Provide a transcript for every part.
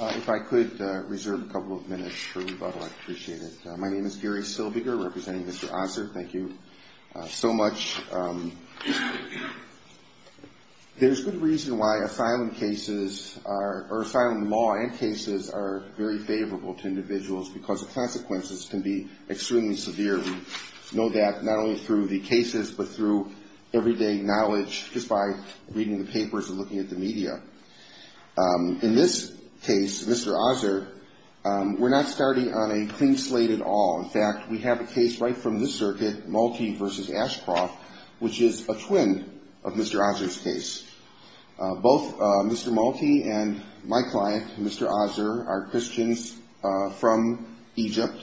If I could reserve a couple of minutes for rebuttal, I'd appreciate it. My name is Gary Silviger, representing Mr. Azer. Thank you so much. There's good reason why asylum cases or asylum law and cases are very favorable to individuals because the consequences can be extremely severe. We know that not only through the cases but through everyday knowledge, just by reading the papers and looking at the media. In this case, Mr. Azer, we're not starting on a clean slate at all. In fact, we have a case right from this circuit, Malti v. Ashcroft, which is a twin of Mr. Azer's case. Both Mr. Malti and my client, Mr. Azer, are Christians from Egypt.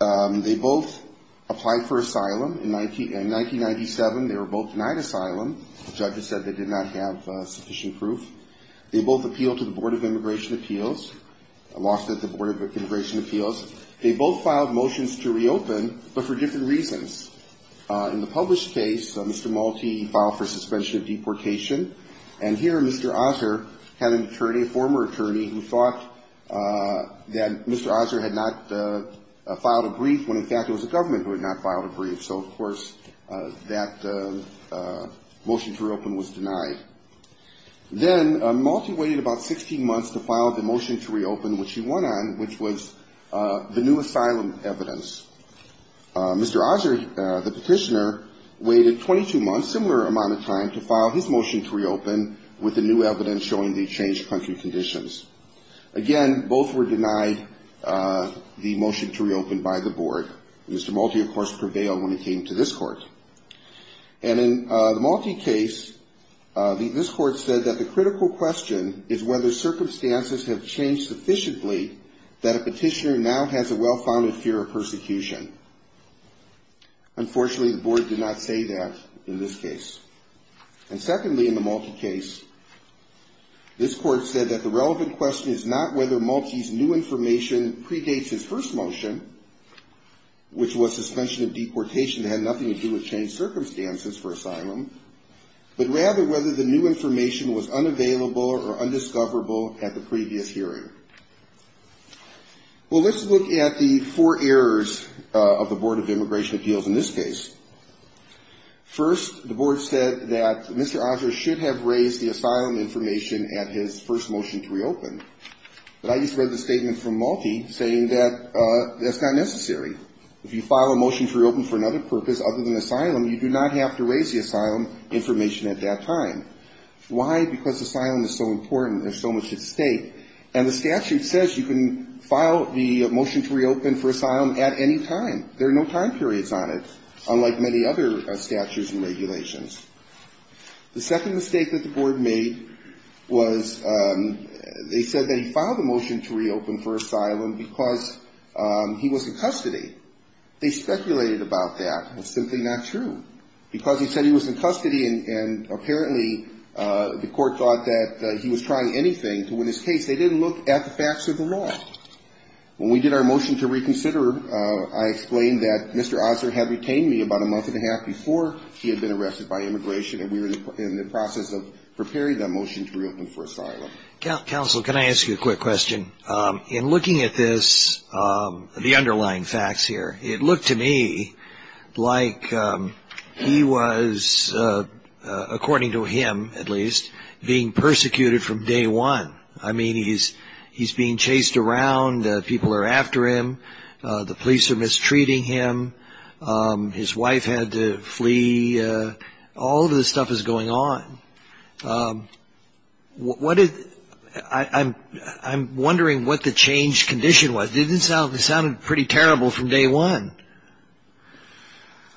They both applied for asylum in 1997. They were both denied asylum. Judges said they did not have sufficient proof. They both appealed to the Board of Immigration Appeals, lost at the Board of Immigration Appeals. They both filed motions to reopen but for different reasons. In the published case, Mr. Malti filed for suspension of deportation. And here, Mr. Azer had an attorney, a former attorney, who thought that Mr. Azer had not filed a brief when, in fact, it was the government who had not filed a brief. So, of course, that motion to reopen was denied. Then Malti waited about 16 months to file the motion to reopen, which he won on, which was the new asylum evidence. Mr. Azer, the petitioner, waited 22 months, similar amount of time, to file his motion to reopen with the new evidence showing the changed country conditions. Again, both were denied the motion to reopen by the Board. Mr. Malti, of course, prevailed when it came to this court. And in the Malti case, this court said that the critical question is whether circumstances have changed sufficiently that a petitioner now has a well-founded fear of persecution. Unfortunately, the Board did not say that in this case. And secondly, in the Malti case, this court said that the relevant question is not whether Malti's new information predates his first motion, which was suspension of deportation that had nothing to do with changed circumstances for asylum, but rather whether the new information was unavailable or undiscoverable at the previous hearing. Well, let's look at the four errors of the Board of Immigration Appeals in this case. First, the Board said that Mr. Azer should have raised the asylum information at his first motion to reopen. But I just read the statement from Malti saying that that's not necessary. If you file a motion to reopen for another purpose other than asylum, you do not have to raise the asylum information at that time. Why? Because asylum is so important. There's so much at stake. And the statute says you can file the motion to reopen for asylum at any time. There are no time periods on it, unlike many other statutes and regulations. The second mistake that the Board made was they said that he filed a motion to reopen for asylum because he was in custody. They speculated about that. It was simply not true. Because he said he was in custody and apparently the court thought that he was trying anything to win his case, they didn't look at the facts of the law. When we did our motion to reconsider, I explained that Mr. Azer had retained me about a month and a half before he had been arrested by Immigration. And we were in the process of preparing that motion to reopen for asylum. Counsel, can I ask you a quick question? In looking at this, the underlying facts here, it looked to me like he was, according to him at least, being persecuted from day one. I mean, he's being chased around. People are after him. The police are mistreating him. His wife had to flee. All of this stuff is going on. I'm wondering what the change condition was. It sounded pretty terrible from day one.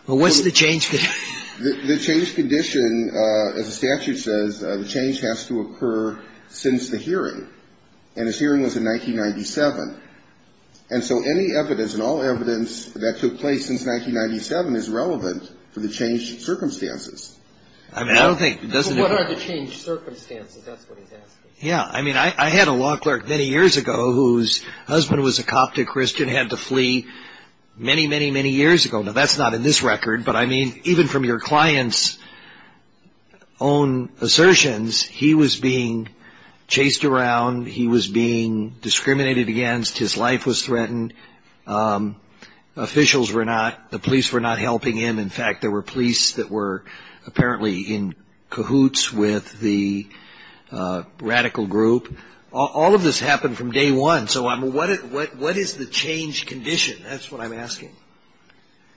What's the change condition? The change condition, as the statute says, the change has to occur since the hearing. And his hearing was in 1997. And so any evidence and all evidence that took place since 1997 is relevant for the change circumstances. I mean, I don't think it doesn't occur. What are the change circumstances? That's what he's asking. Yeah. I mean, I had a law clerk many years ago whose husband was a Coptic Christian, had to flee many, many, many years ago. Now, that's not in this record, but I mean, even from your client's own assertions, he was being chased around. He was being discriminated against. His life was threatened. Officials were not, the police were not helping him. In fact, there were police that were apparently in cahoots with the radical group. All of this happened from day one. So what is the change condition? That's what I'm asking.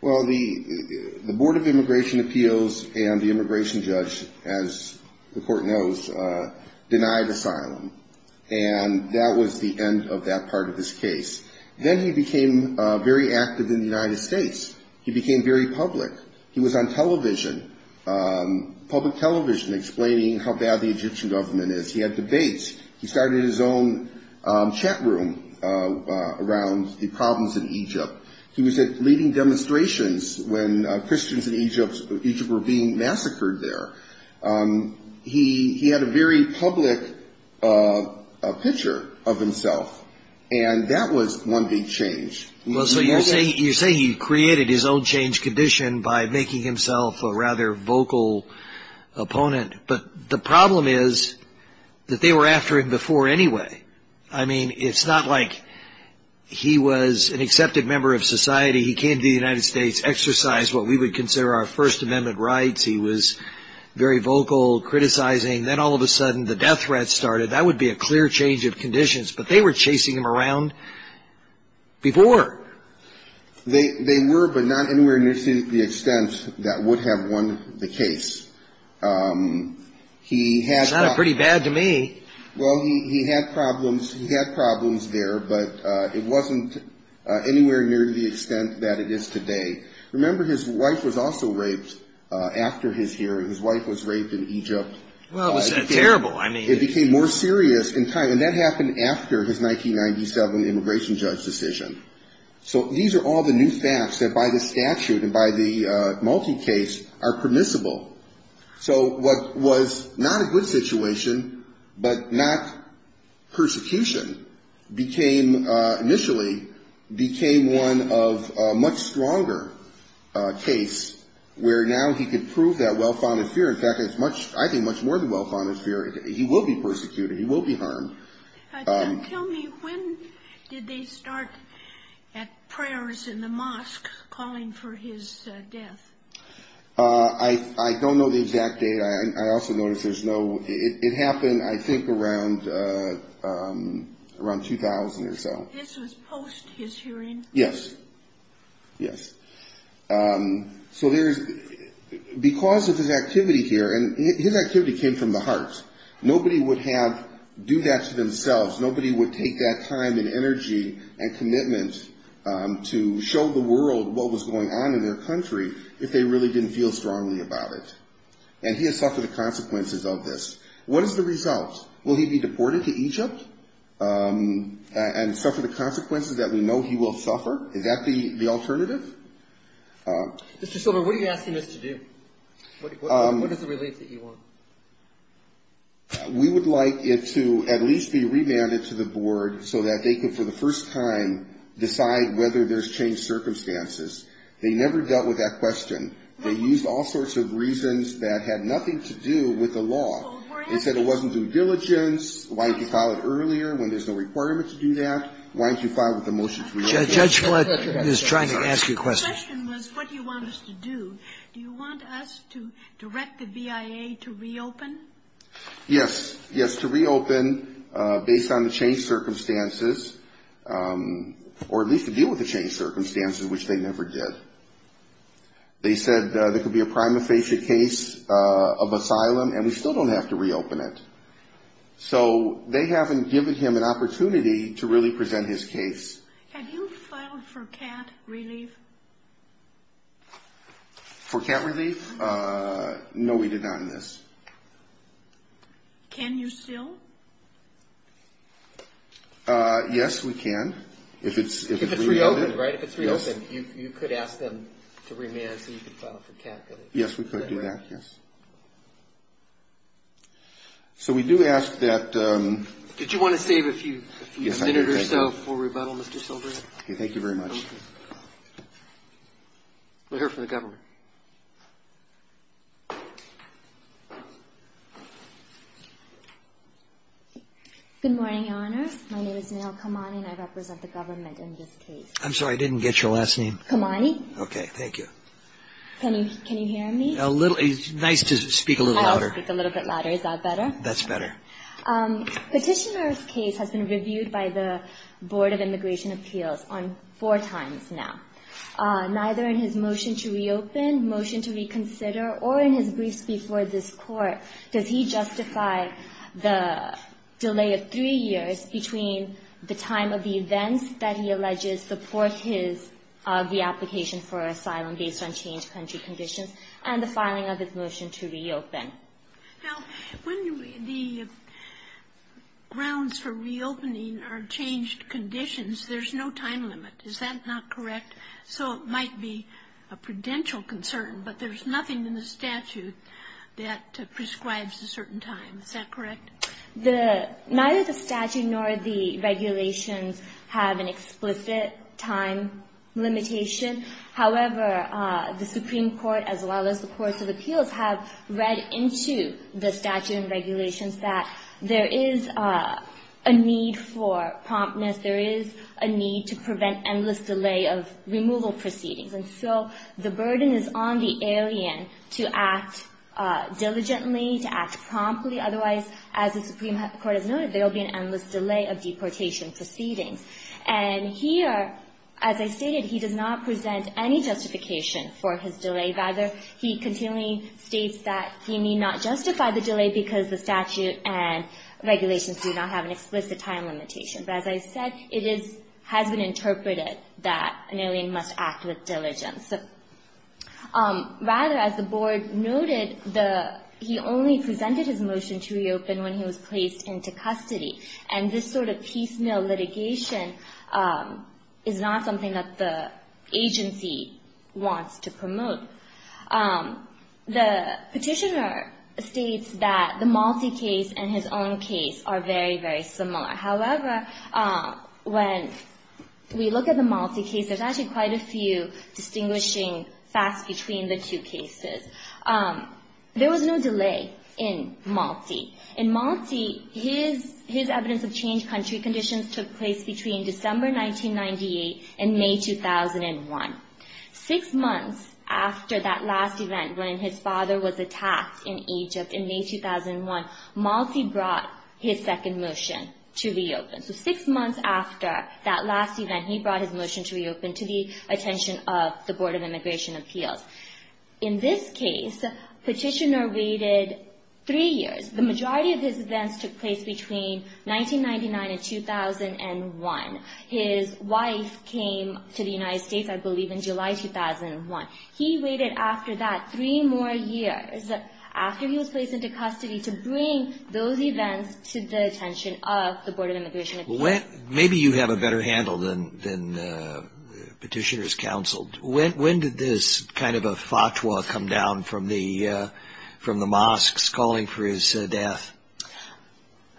Well, the Board of Immigration Appeals and the immigration judge, as the court knows, denied asylum. And that was the end of that part of his case. Then he became very active in the United States. He became very public. He was on television, public television, explaining how bad the Egyptian government is. He had debates. He started his own chat room around the problems in Egypt. He was at leading demonstrations when Christians in Egypt were being massacred there. He had a very public picture of himself, and that was one big change. Well, so you're saying he created his own change condition by making himself a rather vocal opponent. But the problem is that they were after him before anyway. I mean, it's not like he was an accepted member of society. He came to the United States, exercised what we would consider our First Amendment rights. He was very vocal, criticizing. Then all of a sudden the death threats started. That would be a clear change of conditions, but they were chasing him around before. They were, but not anywhere near the extent that would have won the case. It's not pretty bad to me. Well, he had problems. He had problems there, but it wasn't anywhere near the extent that it is today. Remember, his wife was also raped after his hearing. His wife was raped in Egypt. Well, was that terrible? It became more serious in time, and that happened after his 1997 immigration judge decision. So these are all the new facts that by the statute and by the multi-case are permissible. So what was not a good situation, but not persecution, became initially became one of a much stronger case where now he could prove that well-founded fear. In fact, I think much more than well-founded fear. He will be persecuted. He will be harmed. Tell me, when did they start at prayers in the mosque calling for his death? I don't know the exact date. I also notice there's no – it happened, I think, around 2000 or so. This was post his hearing? Yes. Yes. So there's – because of his activity here, and his activity came from the heart. Nobody would have – do that to themselves. Nobody would take that time and energy and commitment to show the world what was going on in their country if they really didn't feel strongly about it, and he has suffered the consequences of this. What is the result? Will he be deported to Egypt and suffer the consequences that we know he will suffer? Is that the alternative? Mr. Silver, what are you asking us to do? What is the relief that you want? We would like it to at least be remanded to the board so that they could, for the first time, decide whether there's changed circumstances. They never dealt with that question. They used all sorts of reasons that had nothing to do with the law. They said it wasn't due diligence. Why didn't you file it earlier when there's no requirement to do that? Why didn't you file it with the motion to reopen? The question was what do you want us to do? Do you want us to direct the VIA to reopen? Yes. Yes, to reopen based on the changed circumstances, or at least to deal with the changed circumstances, which they never did. They said there could be a prima facie case of asylum, and we still don't have to reopen it. So they haven't given him an opportunity to really present his case. Have you filed for cat relief? For cat relief? No, we did not in this. Can you still? Yes, we can. If it's reopened, right? If it's reopened, you could ask them to remand so you could file for cat relief. Yes, we could do that, yes. So we do ask that you... Did you want to save a few minutes or so for rebuttal, Mr. Silver? Thank you very much. We'll hear from the government. Good morning, Your Honor. My name is Nell Kamani, and I represent the government in this case. I'm sorry, I didn't get your last name. Kamani. Okay, thank you. Can you hear me? It's nice to speak a little louder. I'll speak a little bit louder. Is that better? That's better. Petitioner's case has been reviewed by the Board of Immigration Appeals four times now. Neither in his motion to reopen, motion to reconsider, or in his briefs before this Court does he justify the delay of three years between the time of the events that he alleges support his of the application for asylum based on changed country conditions and the filing of his motion to reopen. Now, when the grounds for reopening are changed conditions, there's no time limit. Is that not correct? So it might be a prudential concern, but there's nothing in the statute that prescribes a certain time. Is that correct? Neither the statute nor the regulations have an explicit time limitation. However, the Supreme Court as well as the courts of appeals have read into the statute and regulations that there is a need for promptness. There is a need to prevent endless delay of removal proceedings. And so the burden is on the alien to act diligently, to act promptly. Otherwise, as the Supreme Court has noted, there will be an endless delay of deportation proceedings. And here, as I stated, he does not present any justification for his delay. Rather, he continually states that he may not justify the delay because the statute and regulations do not have an explicit time limitation. But as I said, it has been interpreted that an alien must act with diligence. Rather, as the board noted, he only presented his motion to reopen when he was placed into custody. And this sort of piecemeal litigation is not something that the agency wants to promote. The Petitioner states that the Malti case and his own case are very, very similar. However, when we look at the Malti case, there's actually quite a few distinguishing facts between the two cases. There was no delay in Malti. In Malti, his evidence of changed country conditions took place between December 1998 and May 2001. Six months after that last event, when his father was attacked in Egypt in May 2001, Malti brought his second motion to reopen. So six months after that last event, he brought his motion to reopen to the attention of the Board of Immigration Appeals. In this case, Petitioner waited three years. The majority of his events took place between 1999 and 2001. His wife came to the United States, I believe, in July 2001. He waited after that three more years after he was placed into custody to bring those events to the attention of the Board of Immigration Appeals. Maybe you have a better handle than Petitioner's counsel. When did this kind of a fatwa come down from the mosques calling for his death?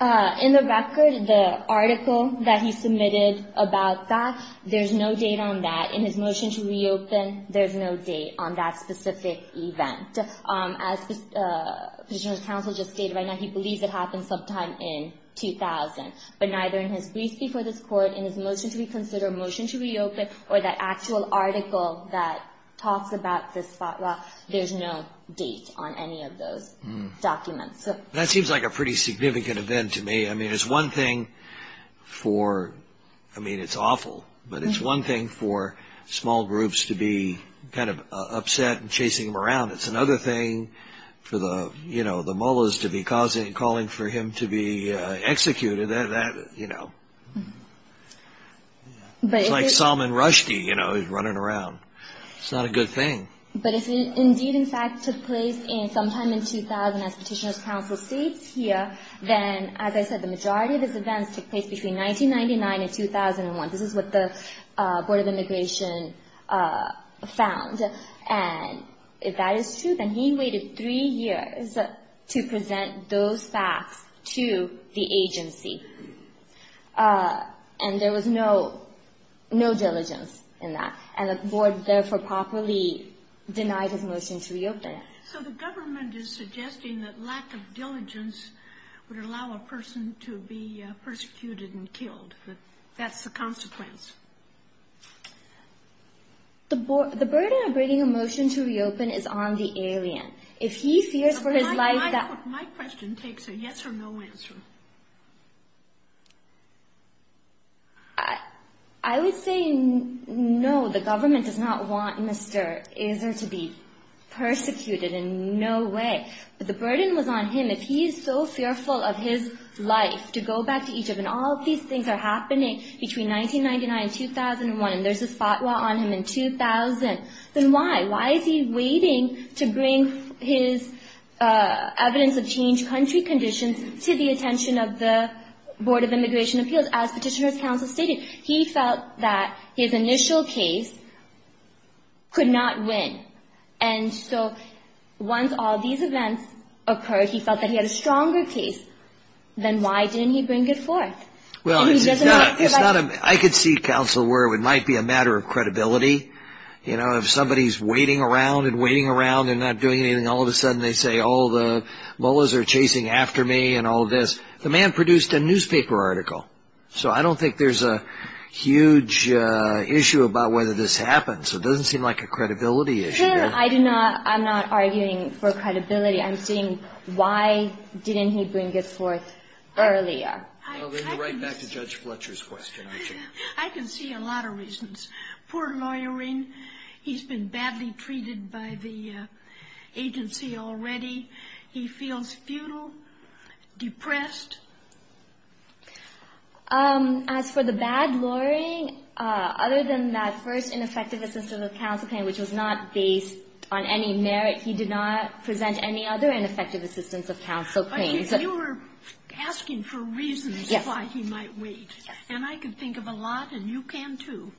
In the record, the article that he submitted about that, there's no date on that. In his motion to reopen, there's no date on that specific event. As Petitioner's counsel just stated right now, he believes it happened sometime in 2000. But neither in his brief before this Court, in his motion to reconsider, motion to reopen, or that actual article that talks about this fatwa, there's no date on any of those documents. That seems like a pretty significant event to me. I mean, it's one thing for – I mean, it's awful. But it's one thing for small groups to be kind of upset and chasing him around. It's another thing for the Mullahs to be calling for him to be executed. That, you know – it's like Salman Rushdie, you know, is running around. It's not a good thing. But if it indeed, in fact, took place sometime in 2000 as Petitioner's counsel states here, then, as I said, the majority of his events took place between 1999 and 2001. This is what the Board of Immigration found. And if that is true, then he waited three years to present those facts to the agency. And there was no – no diligence in that. And the Board, therefore, properly denied his motion to reopen. So the government is suggesting that lack of diligence would allow a person to be persecuted and killed. That's the consequence. The burden of bringing a motion to reopen is on the alien. If he fears for his life that – My question takes a yes or no answer. I would say no. The government does not want Mr. Azar to be persecuted in no way. But the burden was on him if he is so fearful of his life to go back to Egypt. And all of these things are happening between 1999 and 2001. And there's this fatwa on him in 2000. Then why? Why is he waiting to bring his evidence of changed country conditions to the attention of the Board of Immigration Appeals? As Petitioner's counsel stated, he felt that his initial case could not win. And so once all these events occurred, he felt that he had a stronger case. Then why didn't he bring it forth? Well, it's not a – I could see, counsel, where it might be a matter of credibility. You know, if somebody's waiting around and waiting around and not doing anything, all of a sudden they say, oh, the Mullahs are chasing after me and all of this. The man produced a newspaper article. So I don't think there's a huge issue about whether this happens. It doesn't seem like a credibility issue. I do not – I'm not arguing for credibility. I'm saying why didn't he bring this forth earlier? I can see a lot of reasons. Poor lawyering. He's been badly treated by the agency already. He feels futile, depressed. As for the bad lawyering, other than that first ineffective assistance of counsel claim, which was not based on any merit, he did not present any other ineffective assistance of counsel claims. But you were asking for reasons why he might wait. Yes. And I can think of a lot, and you can too.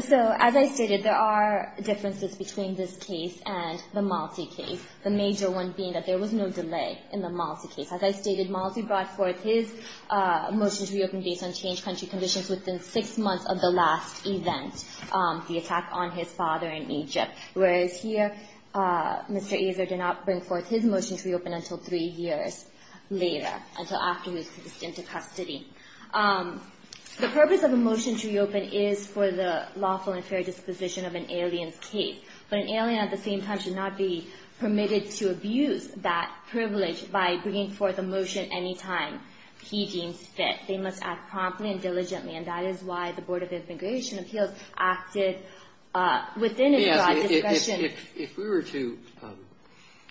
So as I stated, there are differences between this case and the multi-case case, the major one being that there was no delay in the multi-case. As I stated, Malsi brought forth his motion to reopen based on changed country conditions within six months of the last event, the attack on his father in Egypt. Whereas here, Mr. Azar did not bring forth his motion to reopen until three years later, until afterwards he was sent to custody. The purpose of a motion to reopen is for the lawful and fair disposition of an alien's case. But an alien at the same time should not be permitted to abuse that privilege by bringing forth a motion any time he deems fit. They must act promptly and diligently, and that is why the Board of Immigration Appeals acted within a broad discretion. If we were to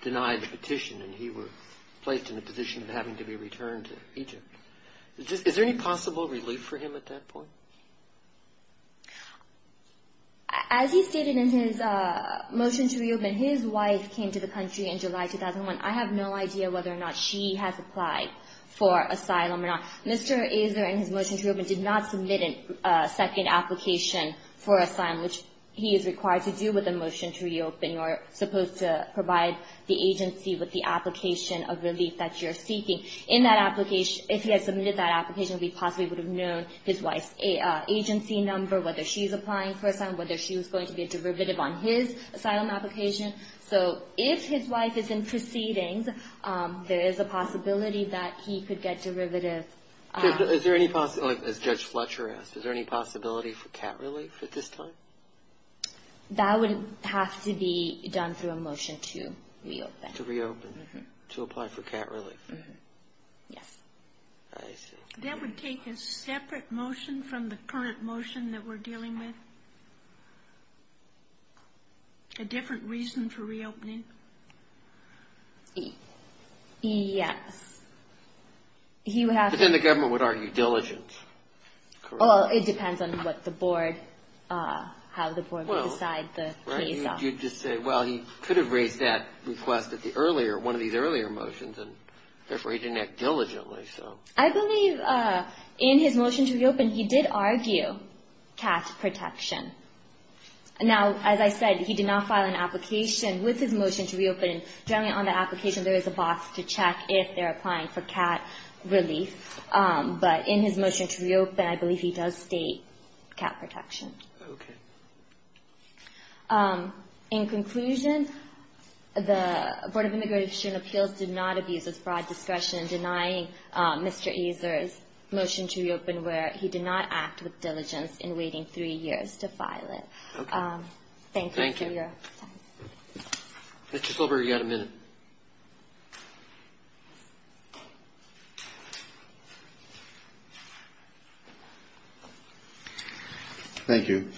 deny the petition and he were placed in a position of having to be returned to Egypt, is there any possible relief for him at that point? As he stated in his motion to reopen, his wife came to the country in July 2001. I have no idea whether or not she has applied for asylum or not. Mr. Azar, in his motion to reopen, did not submit a second application for asylum, which he is required to do with a motion to reopen. You are supposed to provide the agency with the application of relief that you are seeking. In that application, if he had submitted that application, we possibly would have known his wife's agency number, whether she is applying for asylum, whether she was going to be a derivative on his asylum application. So if his wife is in proceedings, there is a possibility that he could get derivative. Is there any possibility, as Judge Fletcher asked, is there any possibility for cat relief at this time? That would have to be done through a motion to reopen. To reopen, to apply for cat relief. Yes. I see. That would take a separate motion from the current motion that we're dealing with? A different reason for reopening? Yes. But then the government would argue diligence. Well, it depends on what the board, how the board would decide the case. You'd just say, well, he could have raised that request at the earlier, one of these earlier motions, and therefore he didn't act diligently. I believe in his motion to reopen, he did argue cat protection. Now, as I said, he did not file an application with his motion to reopen. Generally on the application, there is a box to check if they're applying for cat relief. But in his motion to reopen, I believe he does state cat protection. Okay. In conclusion, the Board of Immigration Appeals did not abuse its broad discretion in denying Mr. Azar's motion to reopen where he did not act with diligence in waiting three years to file it. Okay. Thank you for your time. Thank you. Mr. Silver, you've got a minute. Thank you.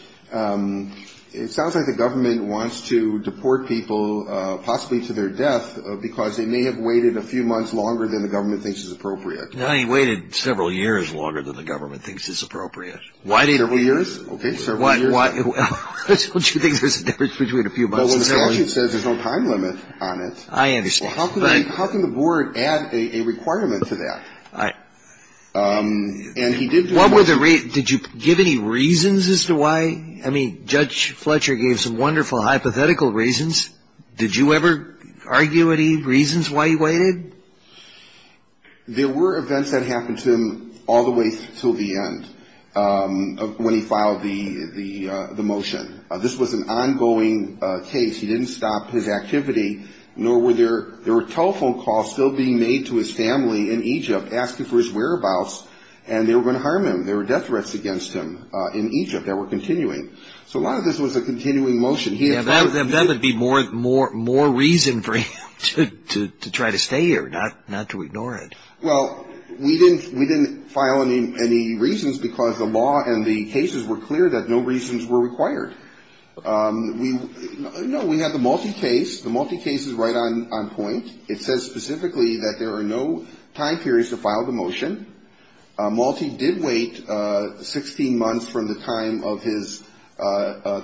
It sounds like the government wants to deport people, possibly to their death, because they may have waited a few months longer than the government thinks is appropriate. No, he waited several years longer than the government thinks is appropriate. Several years? Okay, several years. Well, don't you think there's a difference between a few months and several years? Well, when the statute says there's no time limit on it. I understand. How can the board add a requirement to that? And he did do it. What were the reasons? Did you give any reasons as to why? I mean, Judge Fletcher gave some wonderful hypothetical reasons. Did you ever argue any reasons why he waited? There were events that happened to him all the way until the end when he filed the motion. This was an ongoing case. He didn't stop his activity, nor were there telephone calls still being made to his family in Egypt asking for his whereabouts, and they were going to harm him. There were death threats against him in Egypt that were continuing. So a lot of this was a continuing motion. That would be more reason for him to try to stay here, not to ignore it. Well, we didn't file any reasons because the law and the cases were clear that no reasons were required. No, we had the Malti case. The Malti case is right on point. It says specifically that there are no time periods to file the motion. Malti did wait 16 months from the time of his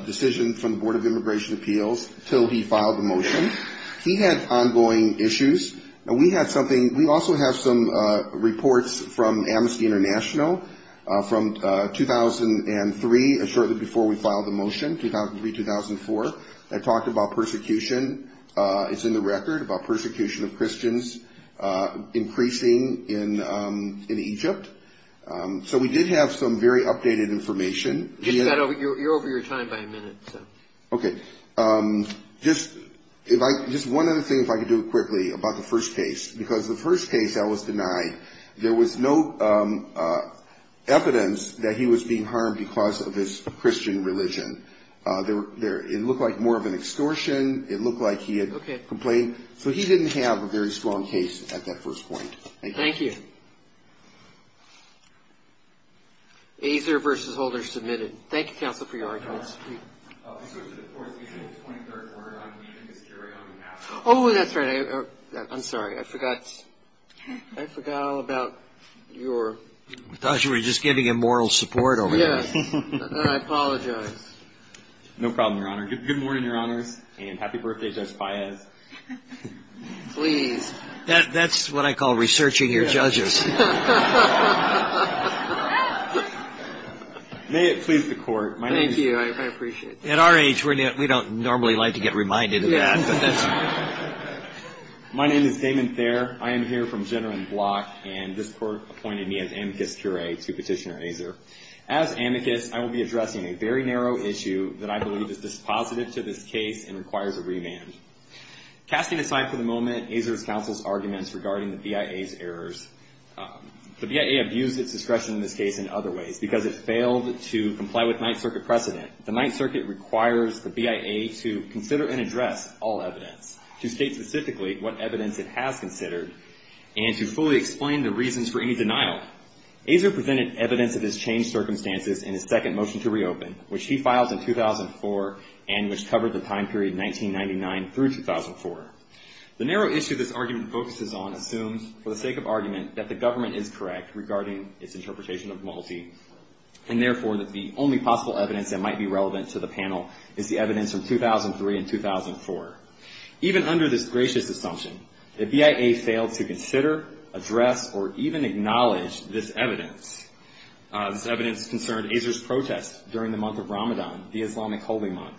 decision from the Board of Immigration Appeals until he filed the motion. He had ongoing issues, and we had something we also have some reports from Amnesty International from 2003, shortly before we filed the motion, 2003-2004, that talked about persecution. It's in the record about persecution of Christians increasing in Egypt. So we did have some very updated information. You're over your time by a minute, so. Okay. Just one other thing, if I could do it quickly, about the first case, because the first case I was denied, there was no evidence that he was being harmed because of his Christian religion. It looked like more of an extortion. It looked like he had complained. So he didn't have a very strong case at that first point. Thank you. Thank you. Azar versus Holder submitted. Thank you, counsel, for your arguments. Oh, that's right. I'm sorry. I forgot. I forgot all about your. I thought you were just giving him moral support over there. Yes. I apologize. No problem, Your Honor. Good morning, Your Honors, and happy birthday, Judge Faez. Please. That's what I call researching your judges. May it please the Court. Thank you. I appreciate that. At our age, we don't normally like to get reminded of that. My name is Damon Thayer. I am here from Jenner and Block, and this Court appointed me as amicus curiae to Petitioner Azar. As amicus, I will be addressing a very narrow issue that I believe is dispositive to this case and requires a remand. Casting aside for the moment Azar's counsel's arguments regarding the BIA's errors, the BIA abused its discretion in this case in other ways because it failed to comply with Ninth Circuit precedent. The Ninth Circuit requires the BIA to consider and address all evidence, to state specifically what evidence it has considered, and to fully explain the reasons for any denial. In fact, Azar presented evidence of his changed circumstances in his second motion to reopen, which he filed in 2004 and which covered the time period 1999 through 2004. The narrow issue this argument focuses on assumes, for the sake of argument, that the government is correct regarding its interpretation of Malti, and therefore that the only possible evidence that might be relevant to the panel is the evidence from 2003 and 2004. Even under this gracious assumption, the BIA failed to consider, address, or even acknowledge this evidence. This evidence concerned Azar's protest during the month of Ramadan, the Islamic holy month,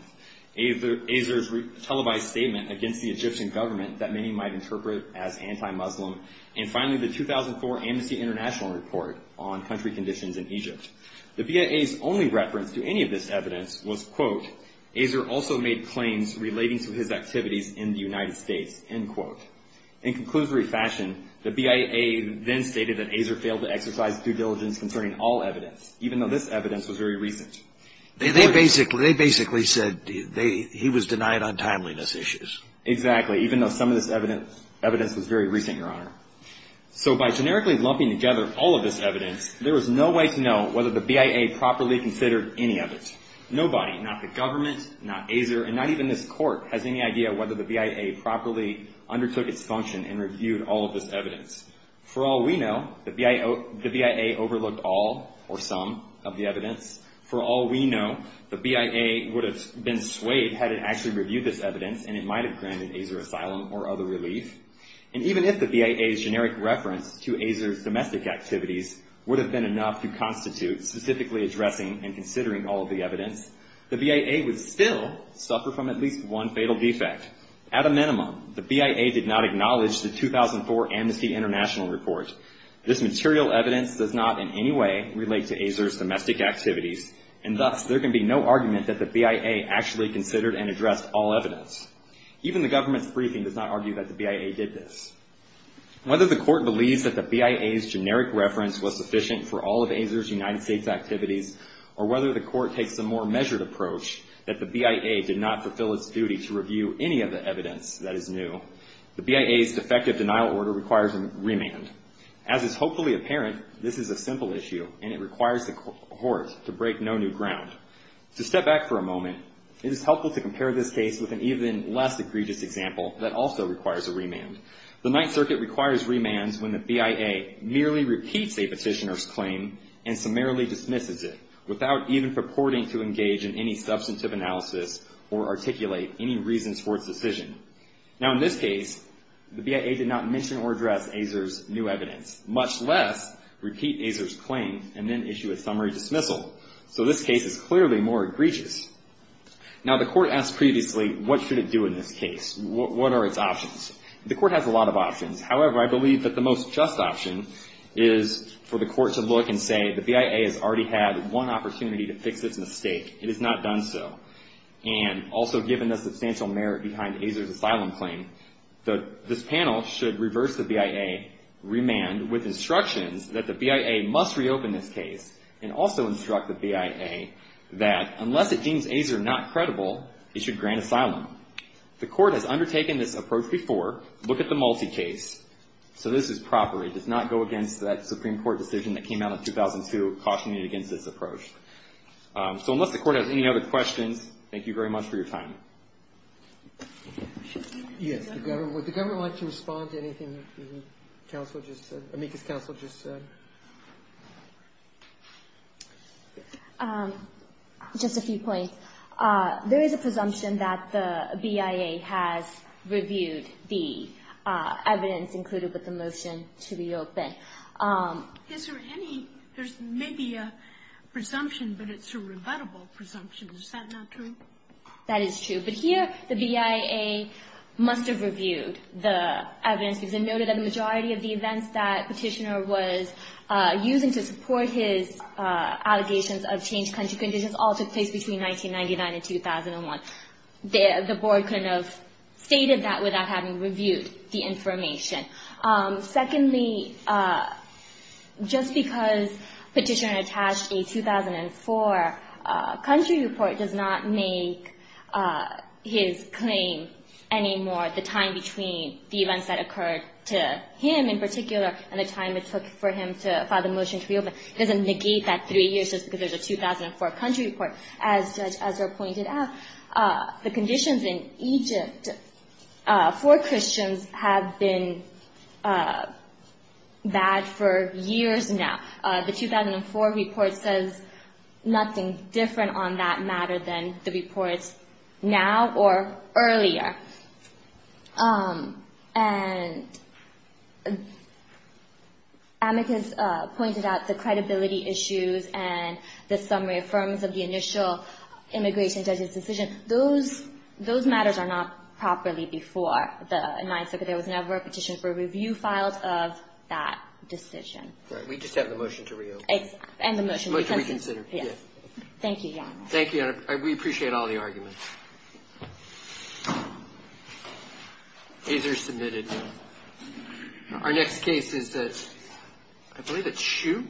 Azar's televised statement against the Egyptian government that many might interpret as anti-Muslim, and finally the 2004 Amnesty International report on country conditions in Egypt. The BIA's only reference to any of this evidence was, quote, Azar also made claims relating to his activities in the United States, end quote. In conclusory fashion, the BIA then stated that Azar failed to exercise due diligence concerning all evidence, even though this evidence was very recent. They basically said he was denied on timeliness issues. Exactly, even though some of this evidence was very recent, Your Honor. So by generically lumping together all of this evidence, there was no way to know whether the BIA properly considered any of it. Nobody, not the government, not Azar, and not even this court, has any idea whether the BIA properly undertook its function and reviewed all of this evidence. For all we know, the BIA overlooked all or some of the evidence. For all we know, the BIA would have been swayed had it actually reviewed this evidence, and it might have granted Azar asylum or other relief. And even if the BIA's generic reference to Azar's domestic activities would have been enough to constitute specifically addressing and considering all of the evidence, the BIA would still suffer from at least one fatal defect. At a minimum, the BIA did not acknowledge the 2004 Amnesty International report. This material evidence does not in any way relate to Azar's domestic activities, and thus there can be no argument that the BIA actually considered and addressed all evidence. Even the government's briefing does not argue that the BIA did this. Whether the court believes that the BIA's generic reference was sufficient for all of Azar's United States activities, or whether the court takes a more measured approach that the BIA did not fulfill its duty to review any of the evidence that is new, the BIA's defective denial order requires a remand. As is hopefully apparent, this is a simple issue, and it requires the court to break no new ground. To step back for a moment, it is helpful to compare this case with an even less egregious example that also requires a remand. The Ninth Circuit requires remands when the BIA merely repeats a petitioner's claim and summarily dismisses it without even purporting to engage in any substantive analysis or articulate any reasons for its decision. Now, in this case, the BIA did not mention or address Azar's new evidence, much less repeat Azar's claim and then issue a summary dismissal. So this case is clearly more egregious. Now, the court asked previously, what should it do in this case? What are its options? The court has a lot of options. However, I believe that the most just option is for the court to look and say, the BIA has already had one opportunity to fix its mistake. It has not done so. And also given the substantial merit behind Azar's asylum claim, this panel should reverse the BIA remand with instructions that the BIA must reopen this case and also instruct the BIA that unless it deems Azar not credible, it should grant asylum. The court has undertaken this approach before. Look at the multi-case. So this is proper. It does not go against that Supreme Court decision that came out in 2002, cautioning it against this approach. So unless the court has any other questions, thank you very much for your time. Yes, the government. Would the government like to respond to anything that the counsel just said, amicus counsel just said? Just a few points. There is a presumption that the BIA has reviewed the evidence included with the motion to reopen. Is there any, there's maybe a presumption, but it's a rebuttable presumption. Is that not true? That is true. But here the BIA must have reviewed the evidence because it noted that the majority of the events that Petitioner was using to support his allegations of changed country conditions all took place between 1999 and 2001. The board couldn't have stated that without having reviewed the information. Secondly, just because Petitioner attached a 2004 country report does not make his claim any more, the time between the events that occurred to him in particular and the time it took for him to file the motion to reopen. It doesn't negate that three years just because there's a 2004 country report. As Judge Ezra pointed out, the conditions in Egypt for Christians have been bad for years now. The 2004 report says nothing different on that matter than the reports now or earlier. And amicus pointed out the credibility issues and the summary affirmance of the initial immigration judge's decision. Those matters are not properly before the Ninth Circuit. There was never a petition for review files of that decision. Right. We just have the motion to reopen. And the motion. Motion to reconsider. Yes. Thank you, Your Honor. Thank you, Your Honor. We appreciate all the arguments. These are submitted. Our next case is the, I believe it's Shue.